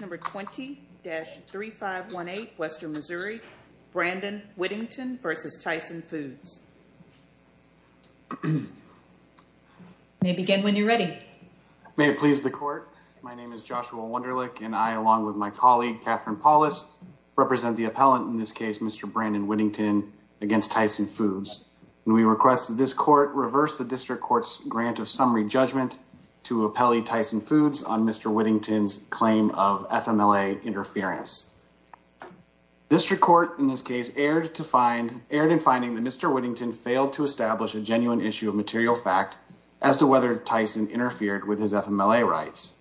Number 20-3518 Western Missouri, Brandon Whittington v. Tyson Foods. May it begin when you're ready. May it please the court. My name is Joshua Wunderlich and I, along with my colleague Catherine Paulus, represent the appellant in this case, Mr. Brandon Whittington v. Tyson Foods. We request that this court reverse the district court's of summary judgment to appellee Tyson Foods on Mr. Whittington's claim of FMLA interference. District court in this case erred in finding that Mr. Whittington failed to establish a genuine issue of material fact as to whether Tyson interfered with his FMLA rights.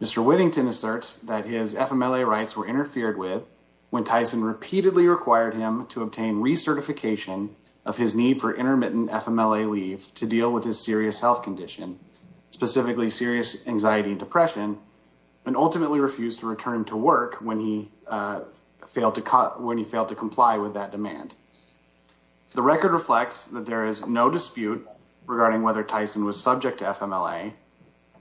Mr. Whittington asserts that his FMLA rights were interfered with when Tyson repeatedly required him to obtain recertification of his need for intermittent FMLA leave to deal with his serious health condition, specifically serious anxiety and depression, and ultimately refused to return to work when he failed to comply with that demand. The record reflects that there is no dispute regarding whether Tyson was subject to FMLA,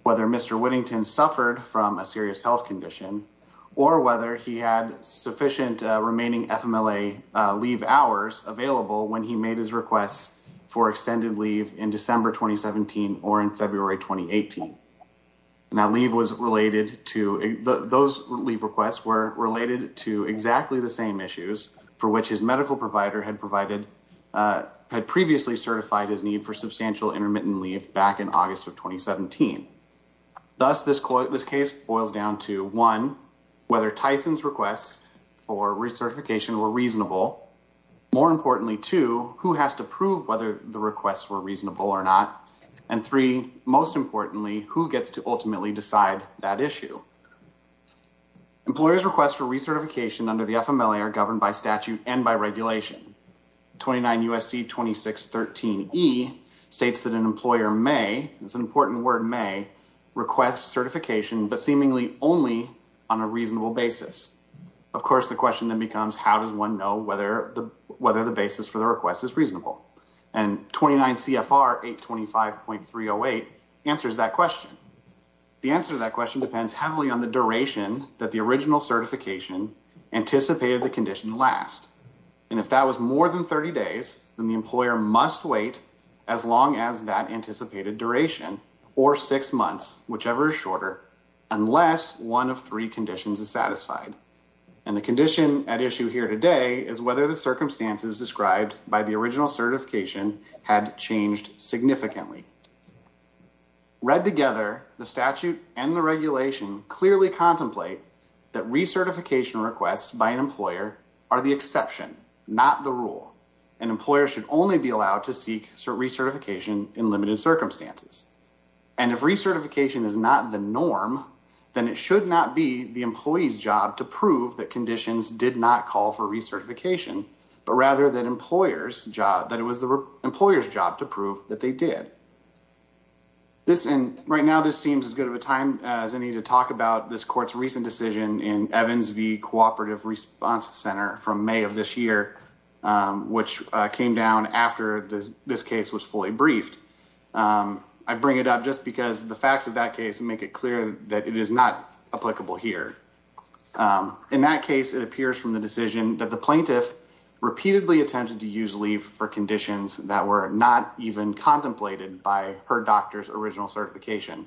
whether Mr. Whittington suffered from a serious health condition, or whether he had sufficient remaining FMLA leave hours available when he made his requests for extended leave in December 2017 or in February 2018. Those leave requests were related to exactly the same issues for which his medical provider had previously certified his need for substantial intermittent leave back in August of 2017. Thus, this case boils down to one, whether Tyson's requests for recertification were reasonable. More importantly, two, who has to prove whether the requests were reasonable or not, and three, most importantly, who gets to ultimately decide that issue. Employers' requests for recertification under the FMLA are governed by statute and by regulation. 29 U.S.C. 2613E states that an employer may, it's an important word may, request certification, but seemingly only on a reasonable basis. Of course, the question then becomes, how does one know whether the basis for the request is reasonable? And 29 CFR 825.308 answers that question. The answer to that question depends heavily on the duration that the original certification anticipated the condition to last. And if that was more than 30 days, then the employer must wait as long as that anticipated duration, or six months, whichever is shorter, unless one of three conditions is satisfied. And the condition at issue here today is whether the circumstances described by the original certification had changed significantly. Read together, the statute and the regulation clearly contemplate that recertification requests by an employer are the not the rule, and employers should only be allowed to seek recertification in limited circumstances. And if recertification is not the norm, then it should not be the employee's job to prove that conditions did not call for recertification, but rather that it was the employer's job to prove that they did. Right now, this seems as good of a time as any to talk about this court's recent decision in Evans v. Cooperative Response Center from May of this year, which came down after this case was fully briefed. I bring it up just because the facts of that case make it clear that it is not applicable here. In that case, it appears from the decision that the plaintiff repeatedly attempted to use leave for conditions that were not even contemplated by her doctor's original certification.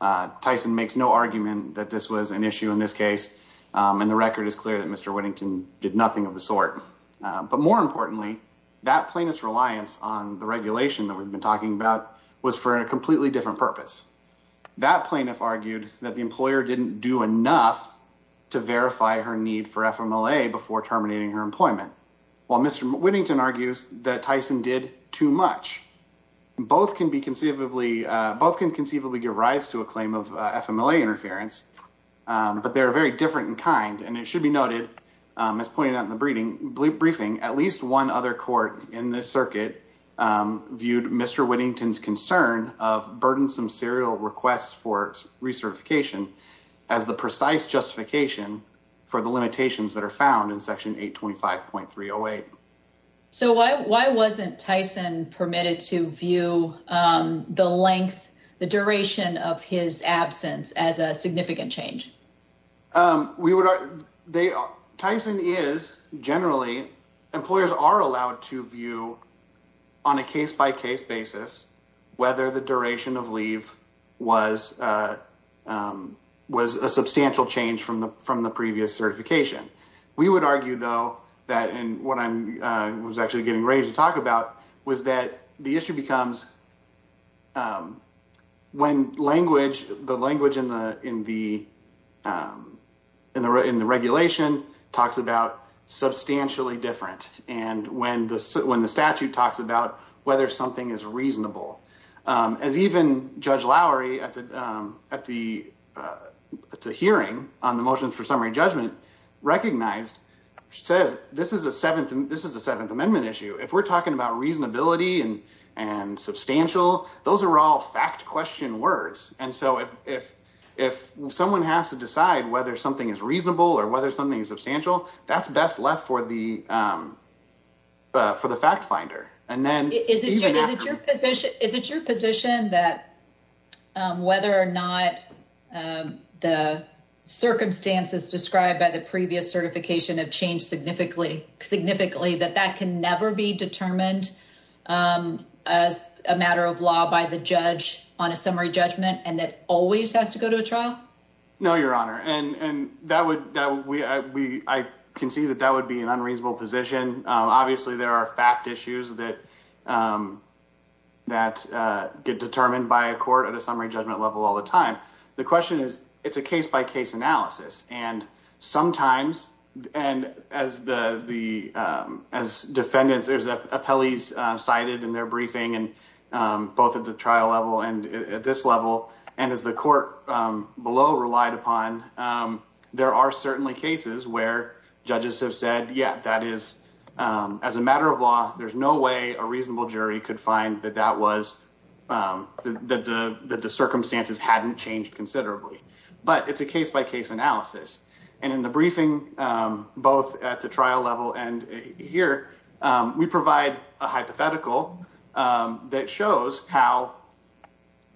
Tyson makes no argument that this was an issue in this case, and the record is clear that Mr. Whittington did nothing of the sort. But more importantly, that plaintiff's reliance on the regulation that we've been talking about was for a completely different purpose. That plaintiff argued that the employer didn't do enough to verify her need for FMLA before terminating her employment, while Mr. Whittington argues that Tyson did too much. Both can be both can conceivably give rise to a claim of FMLA interference, but they're very different in kind, and it should be noted, as pointed out in the briefing, at least one other court in this circuit viewed Mr. Whittington's concern of burdensome serial requests for recertification as the precise justification for the limitations that are found in Section 825.308. So why wasn't Tyson permitted to view the length, the duration of his absence as a significant change? Tyson is generally, employers are allowed to view on a case-by-case basis whether the duration of leave was a substantial change from the previous certification. We would argue, though, and what I was actually getting ready to talk about, was that the issue becomes when the language in the regulation talks about substantially different, and when the statute talks about whether something is reasonable. As even Judge Lowry at the hearing on the motions for summary judgment recognized, she says, this is a Seventh Amendment issue. If we're talking about reasonability and substantial, those are all fact question words. And so if someone has to decide whether something is reasonable or whether something is substantial, that's best left for the fact finder. Is it your position that whether or not the circumstances described by the previous certification have changed significantly, that that can never be determined as a matter of law by the judge on a summary judgment and that always has to go to a trial? No, Your Honor, and I concede that that would be an unreasonable position. Obviously, there are fact issues that get determined by a court at a summary judgment level all the time. The question is, it's a case-by-case analysis. And sometimes, as defendants, there's appellees cited in their briefing, both at the trial level and at this level, and as the court below relied upon, there are certainly cases where judges have said, yeah, that is, as a matter of law, there's no way a reasonable jury could find that that was, that the circumstances hadn't changed considerably. But it's a case-by-case analysis. And in the briefing, both at the trial level and here, we provide a hypothetical that shows how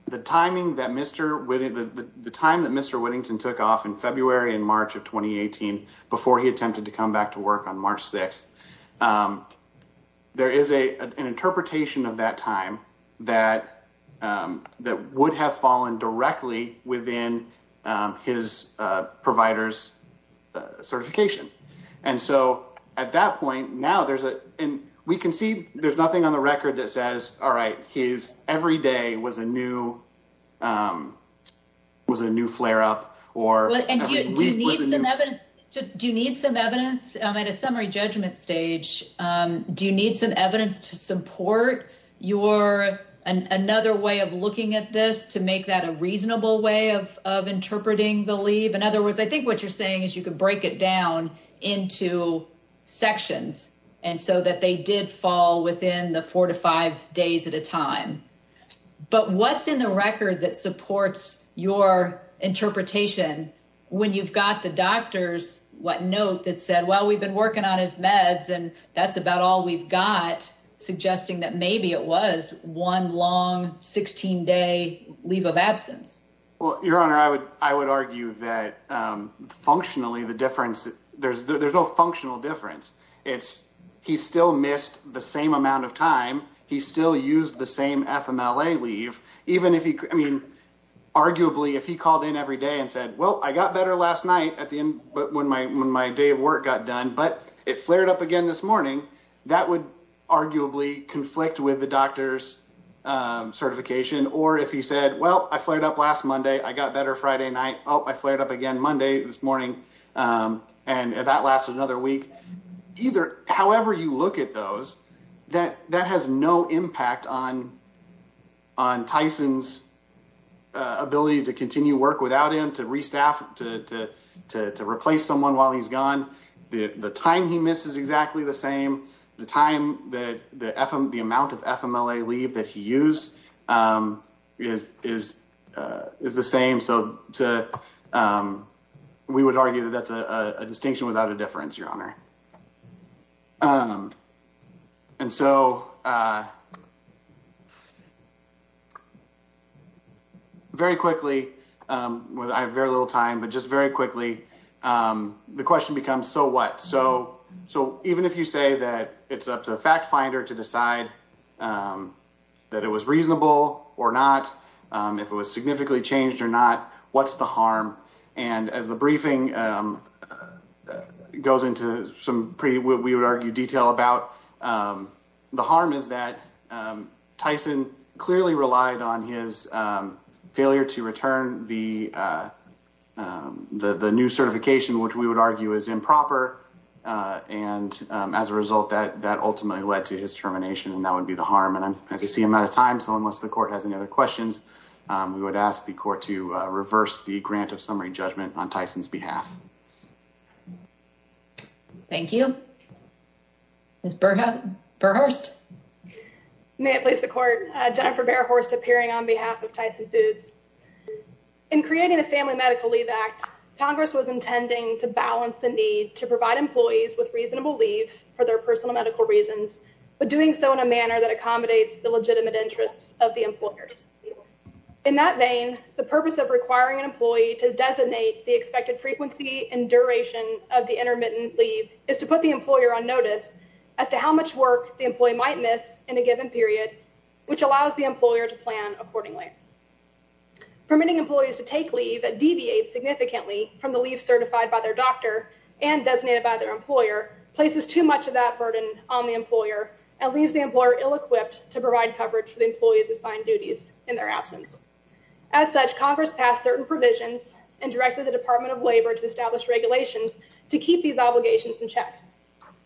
the timing that Mr. Whittington, the time that Mr. Whittington took off in February and March of 2018, before he attempted to come back to work on March 6th, there is an interpretation of that time that would have fallen directly within his provider's certification. And so, at that point, now there's a, and we can see there's nothing on the record that says, all right, his every day was a new, was a new flare-up, or... Do you need some evidence? I'm at a summary judgment stage. Do you need some evidence to support your, another way of looking at this to make that a reasonable way of interpreting the leave? In other words, I think what you're saying is you could break it down into sections. And so that they did fall within the four to five days at a time. But what's in the record that supports your interpretation when you've got the doctor's note that said, well, we've been working on his meds and that's about all we've got, suggesting that maybe it was one long 16-day leave of absence? Well, Your Honor, I would argue that functionally, the difference, there's no functional difference. It's, he still missed the same amount of time. He still used the same FMLA leave, even if he, I mean, arguably if he called in every day and said, well, I got better last night at the end, but when my day of work got done, but it flared up again this morning, that would arguably conflict with the doctor's certification. Or if he said, well, I flared up last Monday, I got better Friday night. Oh, I flared up again Monday this morning. And that lasts another week. Either, however you look at those, that has no impact on Tyson's ability to continue work without him, to re-staff, to replace someone while he's gone. The time he misses is exactly the same. The time, the amount of FMLA leave that he used is the same. So we would argue that that's a distinction without a difference, Your Honor. And so very quickly, I have very little time, but just very quickly, the question becomes, so what? So even if you say that it's up to the fact finder to decide that it was reasonable or not, if it was significantly changed or not, what's the harm? And as the briefing goes into some pretty, we would argue, detail about, the harm is that Tyson clearly relied on his failure to return the new certification, which we would argue is improper. And as a result, that ultimately led to his termination. And that would be the harm. And as you see, I'm out of time. So unless the court has any other questions, we would ask the court to reverse the grant of summary judgment on Tyson's behalf. Thank you. Ms. Berhorst. May it please the court, Jennifer Berhorst appearing on behalf of Tyson Foods. In creating the Family Medical Leave Act, Congress was intending to balance the need to provide employees with reasonable leave for their personal medical reasons, but doing so in a manner that In that vein, the purpose of requiring an employee to designate the expected frequency and duration of the intermittent leave is to put the employer on notice as to how much work the employee might miss in a given period, which allows the employer to plan accordingly. Permitting employees to take leave deviates significantly from the leave certified by their doctor and designated by their employer, places too much of that burden on the employer and leaves the employer ill-equipped to provide coverage for the employees assigned duties in their absence. As such, Congress passed certain provisions and directed the Department of Labor to establish regulations to keep these obligations in check.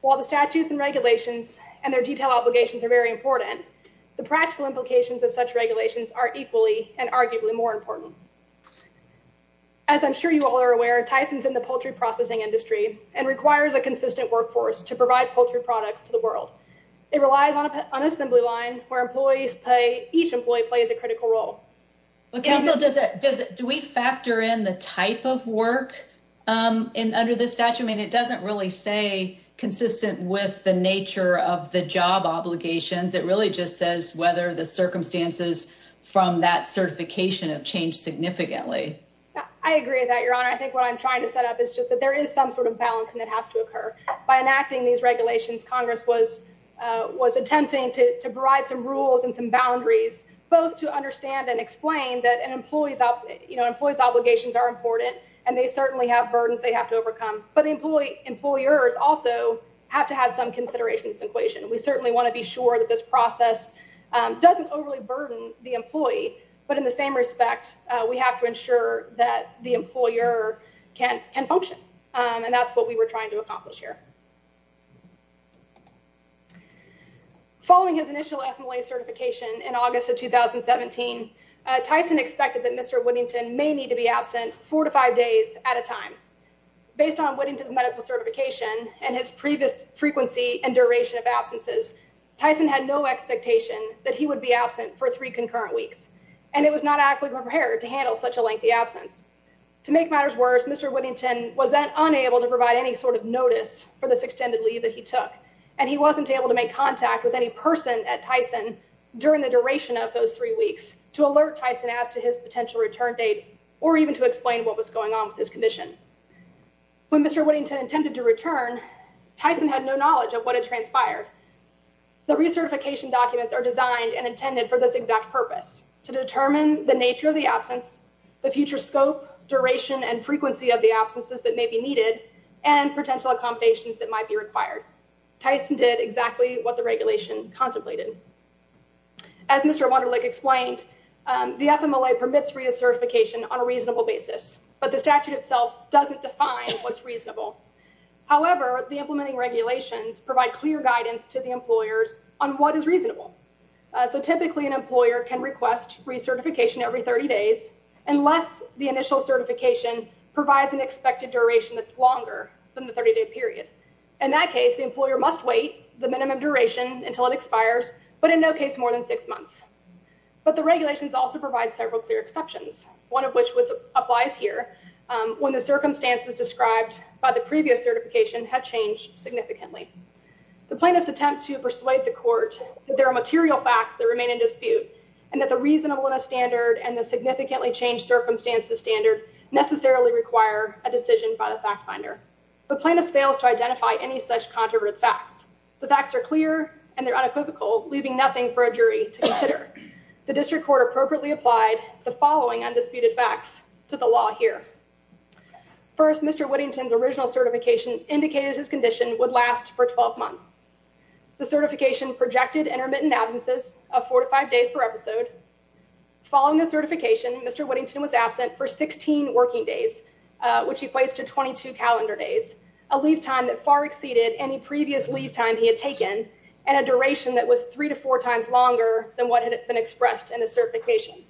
While the statutes and regulations and their detailed obligations are very important, the practical implications of such regulations are equally and arguably more important. As I'm sure you all are aware, Tyson's in the poultry processing industry and requires a consistent workforce to provide poultry products to the world. It relies on an assembly line where each employee plays a critical role. Well, Council, do we factor in the type of work under this statute? I mean, it doesn't really say consistent with the nature of the job obligations. It really just says whether the circumstances from that certification have changed significantly. I agree with that, Your Honor. I think what I'm trying to set up is just that there is some sort of balance and it has to occur. By enacting these regulations, Congress was attempting to provide some rules and some boundaries, both to understand and explain that an employee's obligations are important and they certainly have burdens they have to overcome. But employers also have to have some consideration in this equation. We certainly want to be sure that this process doesn't overly burden the employee. But in the same respect, we have to ensure that the employer can function. And that's what we were trying to accomplish here. Following his initial FMLA certification in August of 2017, Tyson expected that Mr. Whittington may need to be absent four to five days at a time. Based on Whittington's medical certification and his previous frequency and duration of absences, Tyson had no expectation that he would be absent for three concurrent weeks. And it was not adequately prepared to provide any sort of notice for this extended leave that he took. And he wasn't able to make contact with any person at Tyson during the duration of those three weeks to alert Tyson as to his potential return date or even to explain what was going on with his condition. When Mr. Whittington attempted to return, Tyson had no knowledge of what had transpired. The recertification documents are designed and intended for this exact purpose, to determine the nature of the absence, the future scope, duration and frequency of the absences that may be needed, and potential accommodations that might be required. Tyson did exactly what the regulation contemplated. As Mr. Wunderlich explained, the FMLA permits re-certification on a reasonable basis, but the statute itself doesn't define what's reasonable. However, the implementing regulations provide clear guidance to the employers on what is reasonable. So typically an employer can request recertification every 30 days unless the initial certification provides an expected duration that's longer than the 30-day period. In that case, the employer must wait the minimum duration until it expires, but in no case more than six months. But the regulations also provide several clear exceptions, one of which applies here, when the circumstances described by the previous certification have changed significantly. The plaintiffs attempt to persuade the court that there are material facts that remain in dispute and that the reasonableness standard and the significantly changed circumstances standard necessarily require a decision by the fact finder. The plaintiff fails to identify any such controversial facts. The facts are clear and they're unequivocal, leaving nothing for a jury to consider. The district court appropriately applied the following undisputed facts to the law here. First, Mr. Whittington's original certification indicated his condition would for 12 months. The certification projected intermittent absences of four to five days per episode. Following the certification, Mr. Whittington was absent for 16 working days, which equates to 22 calendar days, a leave time that far exceeded any previous leave time he had taken and a duration that was three to four times longer than what had been expressed in the certification.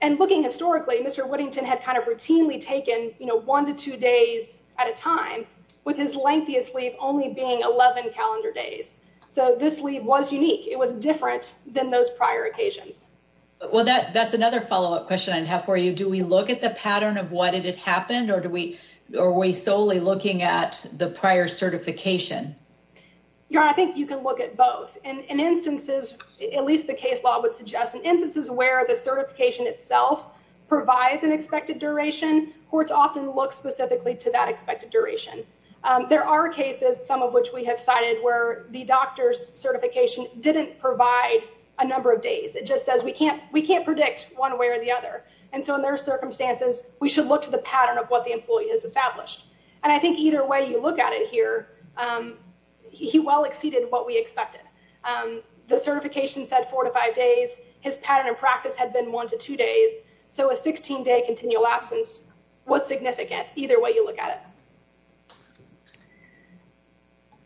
And looking historically, Mr. Whittington had kind of routinely taken, you know, his lengthiest leave only being 11 calendar days. So this leave was unique. It was different than those prior occasions. Well, that's another follow-up question I'd have for you. Do we look at the pattern of what had happened or are we solely looking at the prior certification? Your Honor, I think you can look at both. In instances, at least the case law would suggest, in instances where the certification itself provides an expected duration, courts often look specifically to that expected duration. There are cases, some of which we have cited, where the doctor's certification didn't provide a number of days. It just says, we can't predict one way or the other. And so in those circumstances, we should look to the pattern of what the employee has established. And I think either way you look at it here, he well exceeded what we expected. The certification said four to five days. His pattern of practice had been one to two days. So a 16-day continual absence was significant either way you look at it.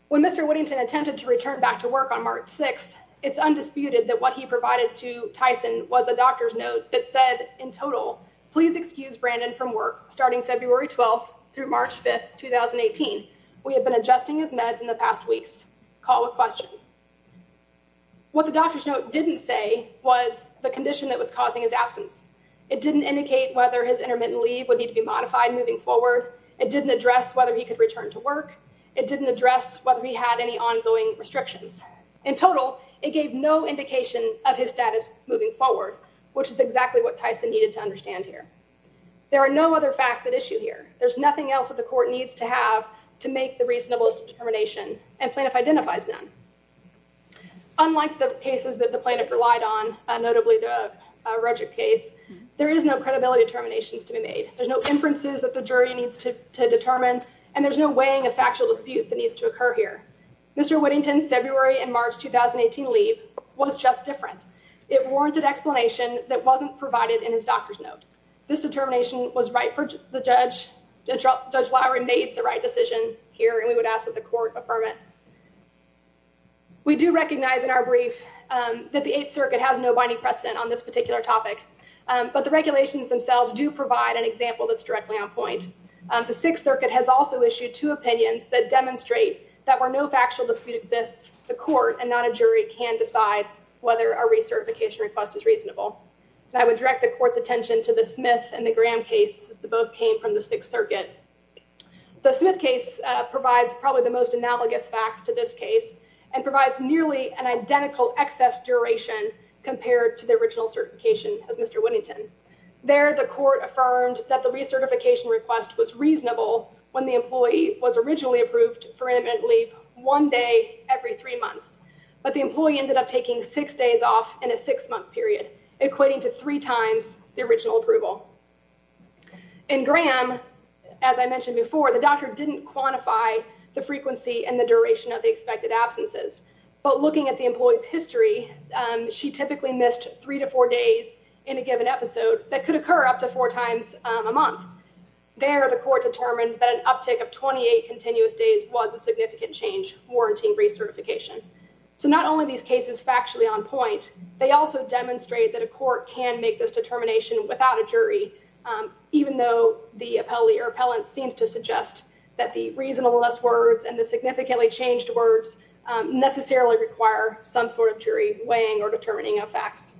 When Mr. Whittington attempted to return back to work on March 6th, it's undisputed that what he provided to Tyson was a doctor's note that said, in total, please excuse Brandon from work starting February 12th through March 5th, 2018. We have been adjusting his meds in the past weeks. Call didn't say was the condition that was causing his absence. It didn't indicate whether his intermittent leave would need to be modified moving forward. It didn't address whether he could return to work. It didn't address whether he had any ongoing restrictions. In total, it gave no indication of his status moving forward, which is exactly what Tyson needed to understand here. There are no other facts at issue here. There's nothing else that the court needs to have to make the reasonablest determination, and plaintiff identifies none. Unlike the cases that the plaintiff relied on, notably the Regic case, there is no credibility determinations to be made. There's no inferences that the jury needs to determine, and there's no weighing of factual disputes that needs to occur here. Mr. Whittington's February and March 2018 leave was just different. It warranted explanation that wasn't provided in his hearing. We would ask that the court affirm it. We do recognize in our brief that the 8th Circuit has no binding precedent on this particular topic, but the regulations themselves do provide an example that's directly on point. The 6th Circuit has also issued two opinions that demonstrate that where no factual dispute exists, the court and not a jury can decide whether a recertification request is reasonable. I would direct the court's attention to the Smith and the Graham case, as they both came from the 6th Circuit. The Smith case provides probably the most analogous facts to this case and provides nearly an identical excess duration compared to the original certification as Mr. Whittington. There, the court affirmed that the recertification request was reasonable when the employee was originally approved for intermittent leave one day every three months, but the employee ended up taking six days off in a six-month period, equating to three times the original approval. In Graham, as I mentioned before, the doctor didn't quantify the frequency and the duration of the expected absences, but looking at the employee's history, she typically missed three to four days in a given episode that could occur up to four times a month. There, the court determined that an uptick of 28 continuous days was a significant change warranting recertification. So not only are these cases factually on point, they also demonstrate that a court can make this determination without a jury, even though the appellate or appellant seems to suggest that the reasonableness words and the significantly changed words necessarily require some sort of jury weighing or determining of facts.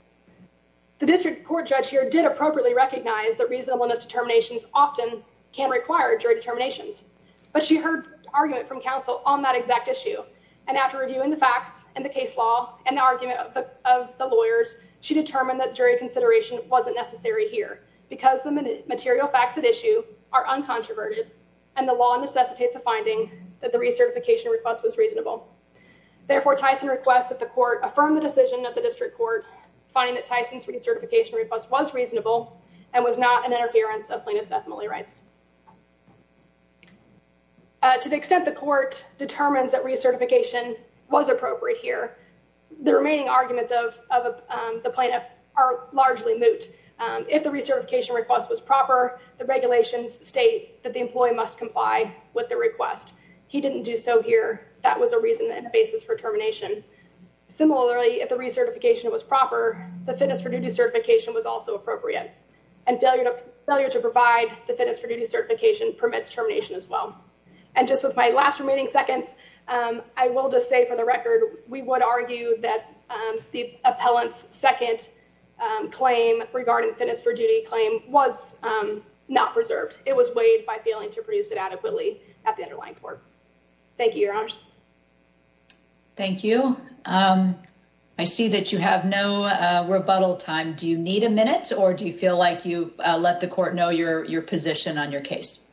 The district court judge here did appropriately recognize that reasonableness determinations often can require jury determinations, but she heard argument from counsel on that exact issue, and after reviewing the facts and the case law and the argument of the lawyers, she determined that jury consideration wasn't necessary here because the material facts at issue are uncontroverted and the law necessitates a finding that the recertification request was reasonable. Therefore, Tyson requests that the court affirm the decision of the district court finding that Tyson's recertification request was reasonable and was not an interference of plaintiff's ethnically rights. To the extent the court determines that recertification was appropriate here, the remaining arguments of the plaintiff are largely moot. If the recertification request was proper, the regulations state that the employee must comply with the request. He didn't do so here. That was a reason and a basis for termination. Similarly, if the recertification was proper, the fitness for duty certification was also appropriate and failure to provide the fitness for duty certification permits termination as well. And just with my last remaining seconds, I will just say for the record, we would argue that the appellant's second claim regarding fitness for duty claim was not preserved. It was weighed by failing to produce it adequately at the underlying court. Thank you, your honors. Thank you. I see that you have no rebuttal time. Do you need a minute or do you feel like you your position on your case?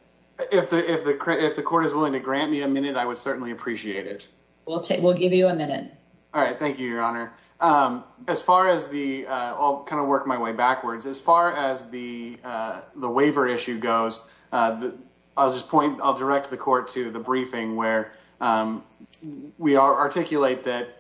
If the court is willing to grant me a minute, I would certainly appreciate it. We'll give you a minute. All right. Thank you, your honor. As far as the, I'll kind of work my way backwards. As far as the waiver issue goes, I'll just point, I'll direct the court to the briefing where we articulate that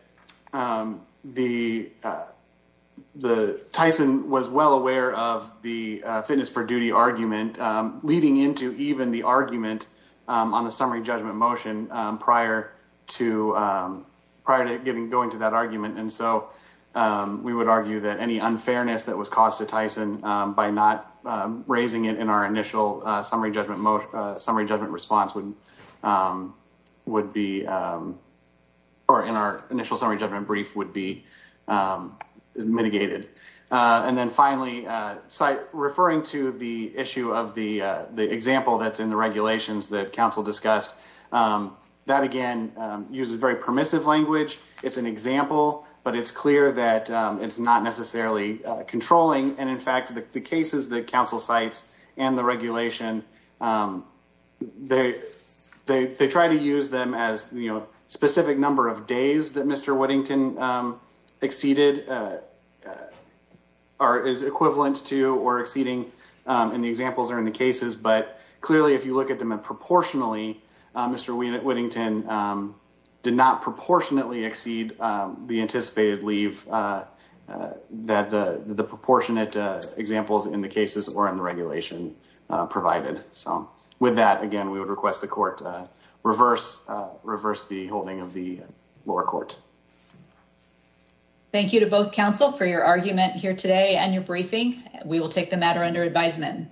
the Tyson was well aware of the fitness for duty argument, leading into even the argument on the summary judgment motion prior to going to that argument. And so we would argue that any unfairness that was caused to Tyson by not raising it in our initial summary judgment response would be, or in our initial summary judgment brief would be mitigated. And then finally, referring to the issue of the example that's in the regulations that counsel discussed, that again, uses very permissive language. It's an example, but it's it's not necessarily controlling. And in fact, the cases that council sites and the regulation, they try to use them as specific number of days that Mr. Whittington exceeded is equivalent to or exceeding. And the examples are in the cases, but clearly if you look at them and proportionally, Mr. Whittington did not proportionately exceed the anticipated leave that the proportionate examples in the cases or in the regulation provided. So with that, again, we would request the court reverse the holding of the lower court. Thank you to both counsel for your argument here today and your briefing. We will take the matter under advisement.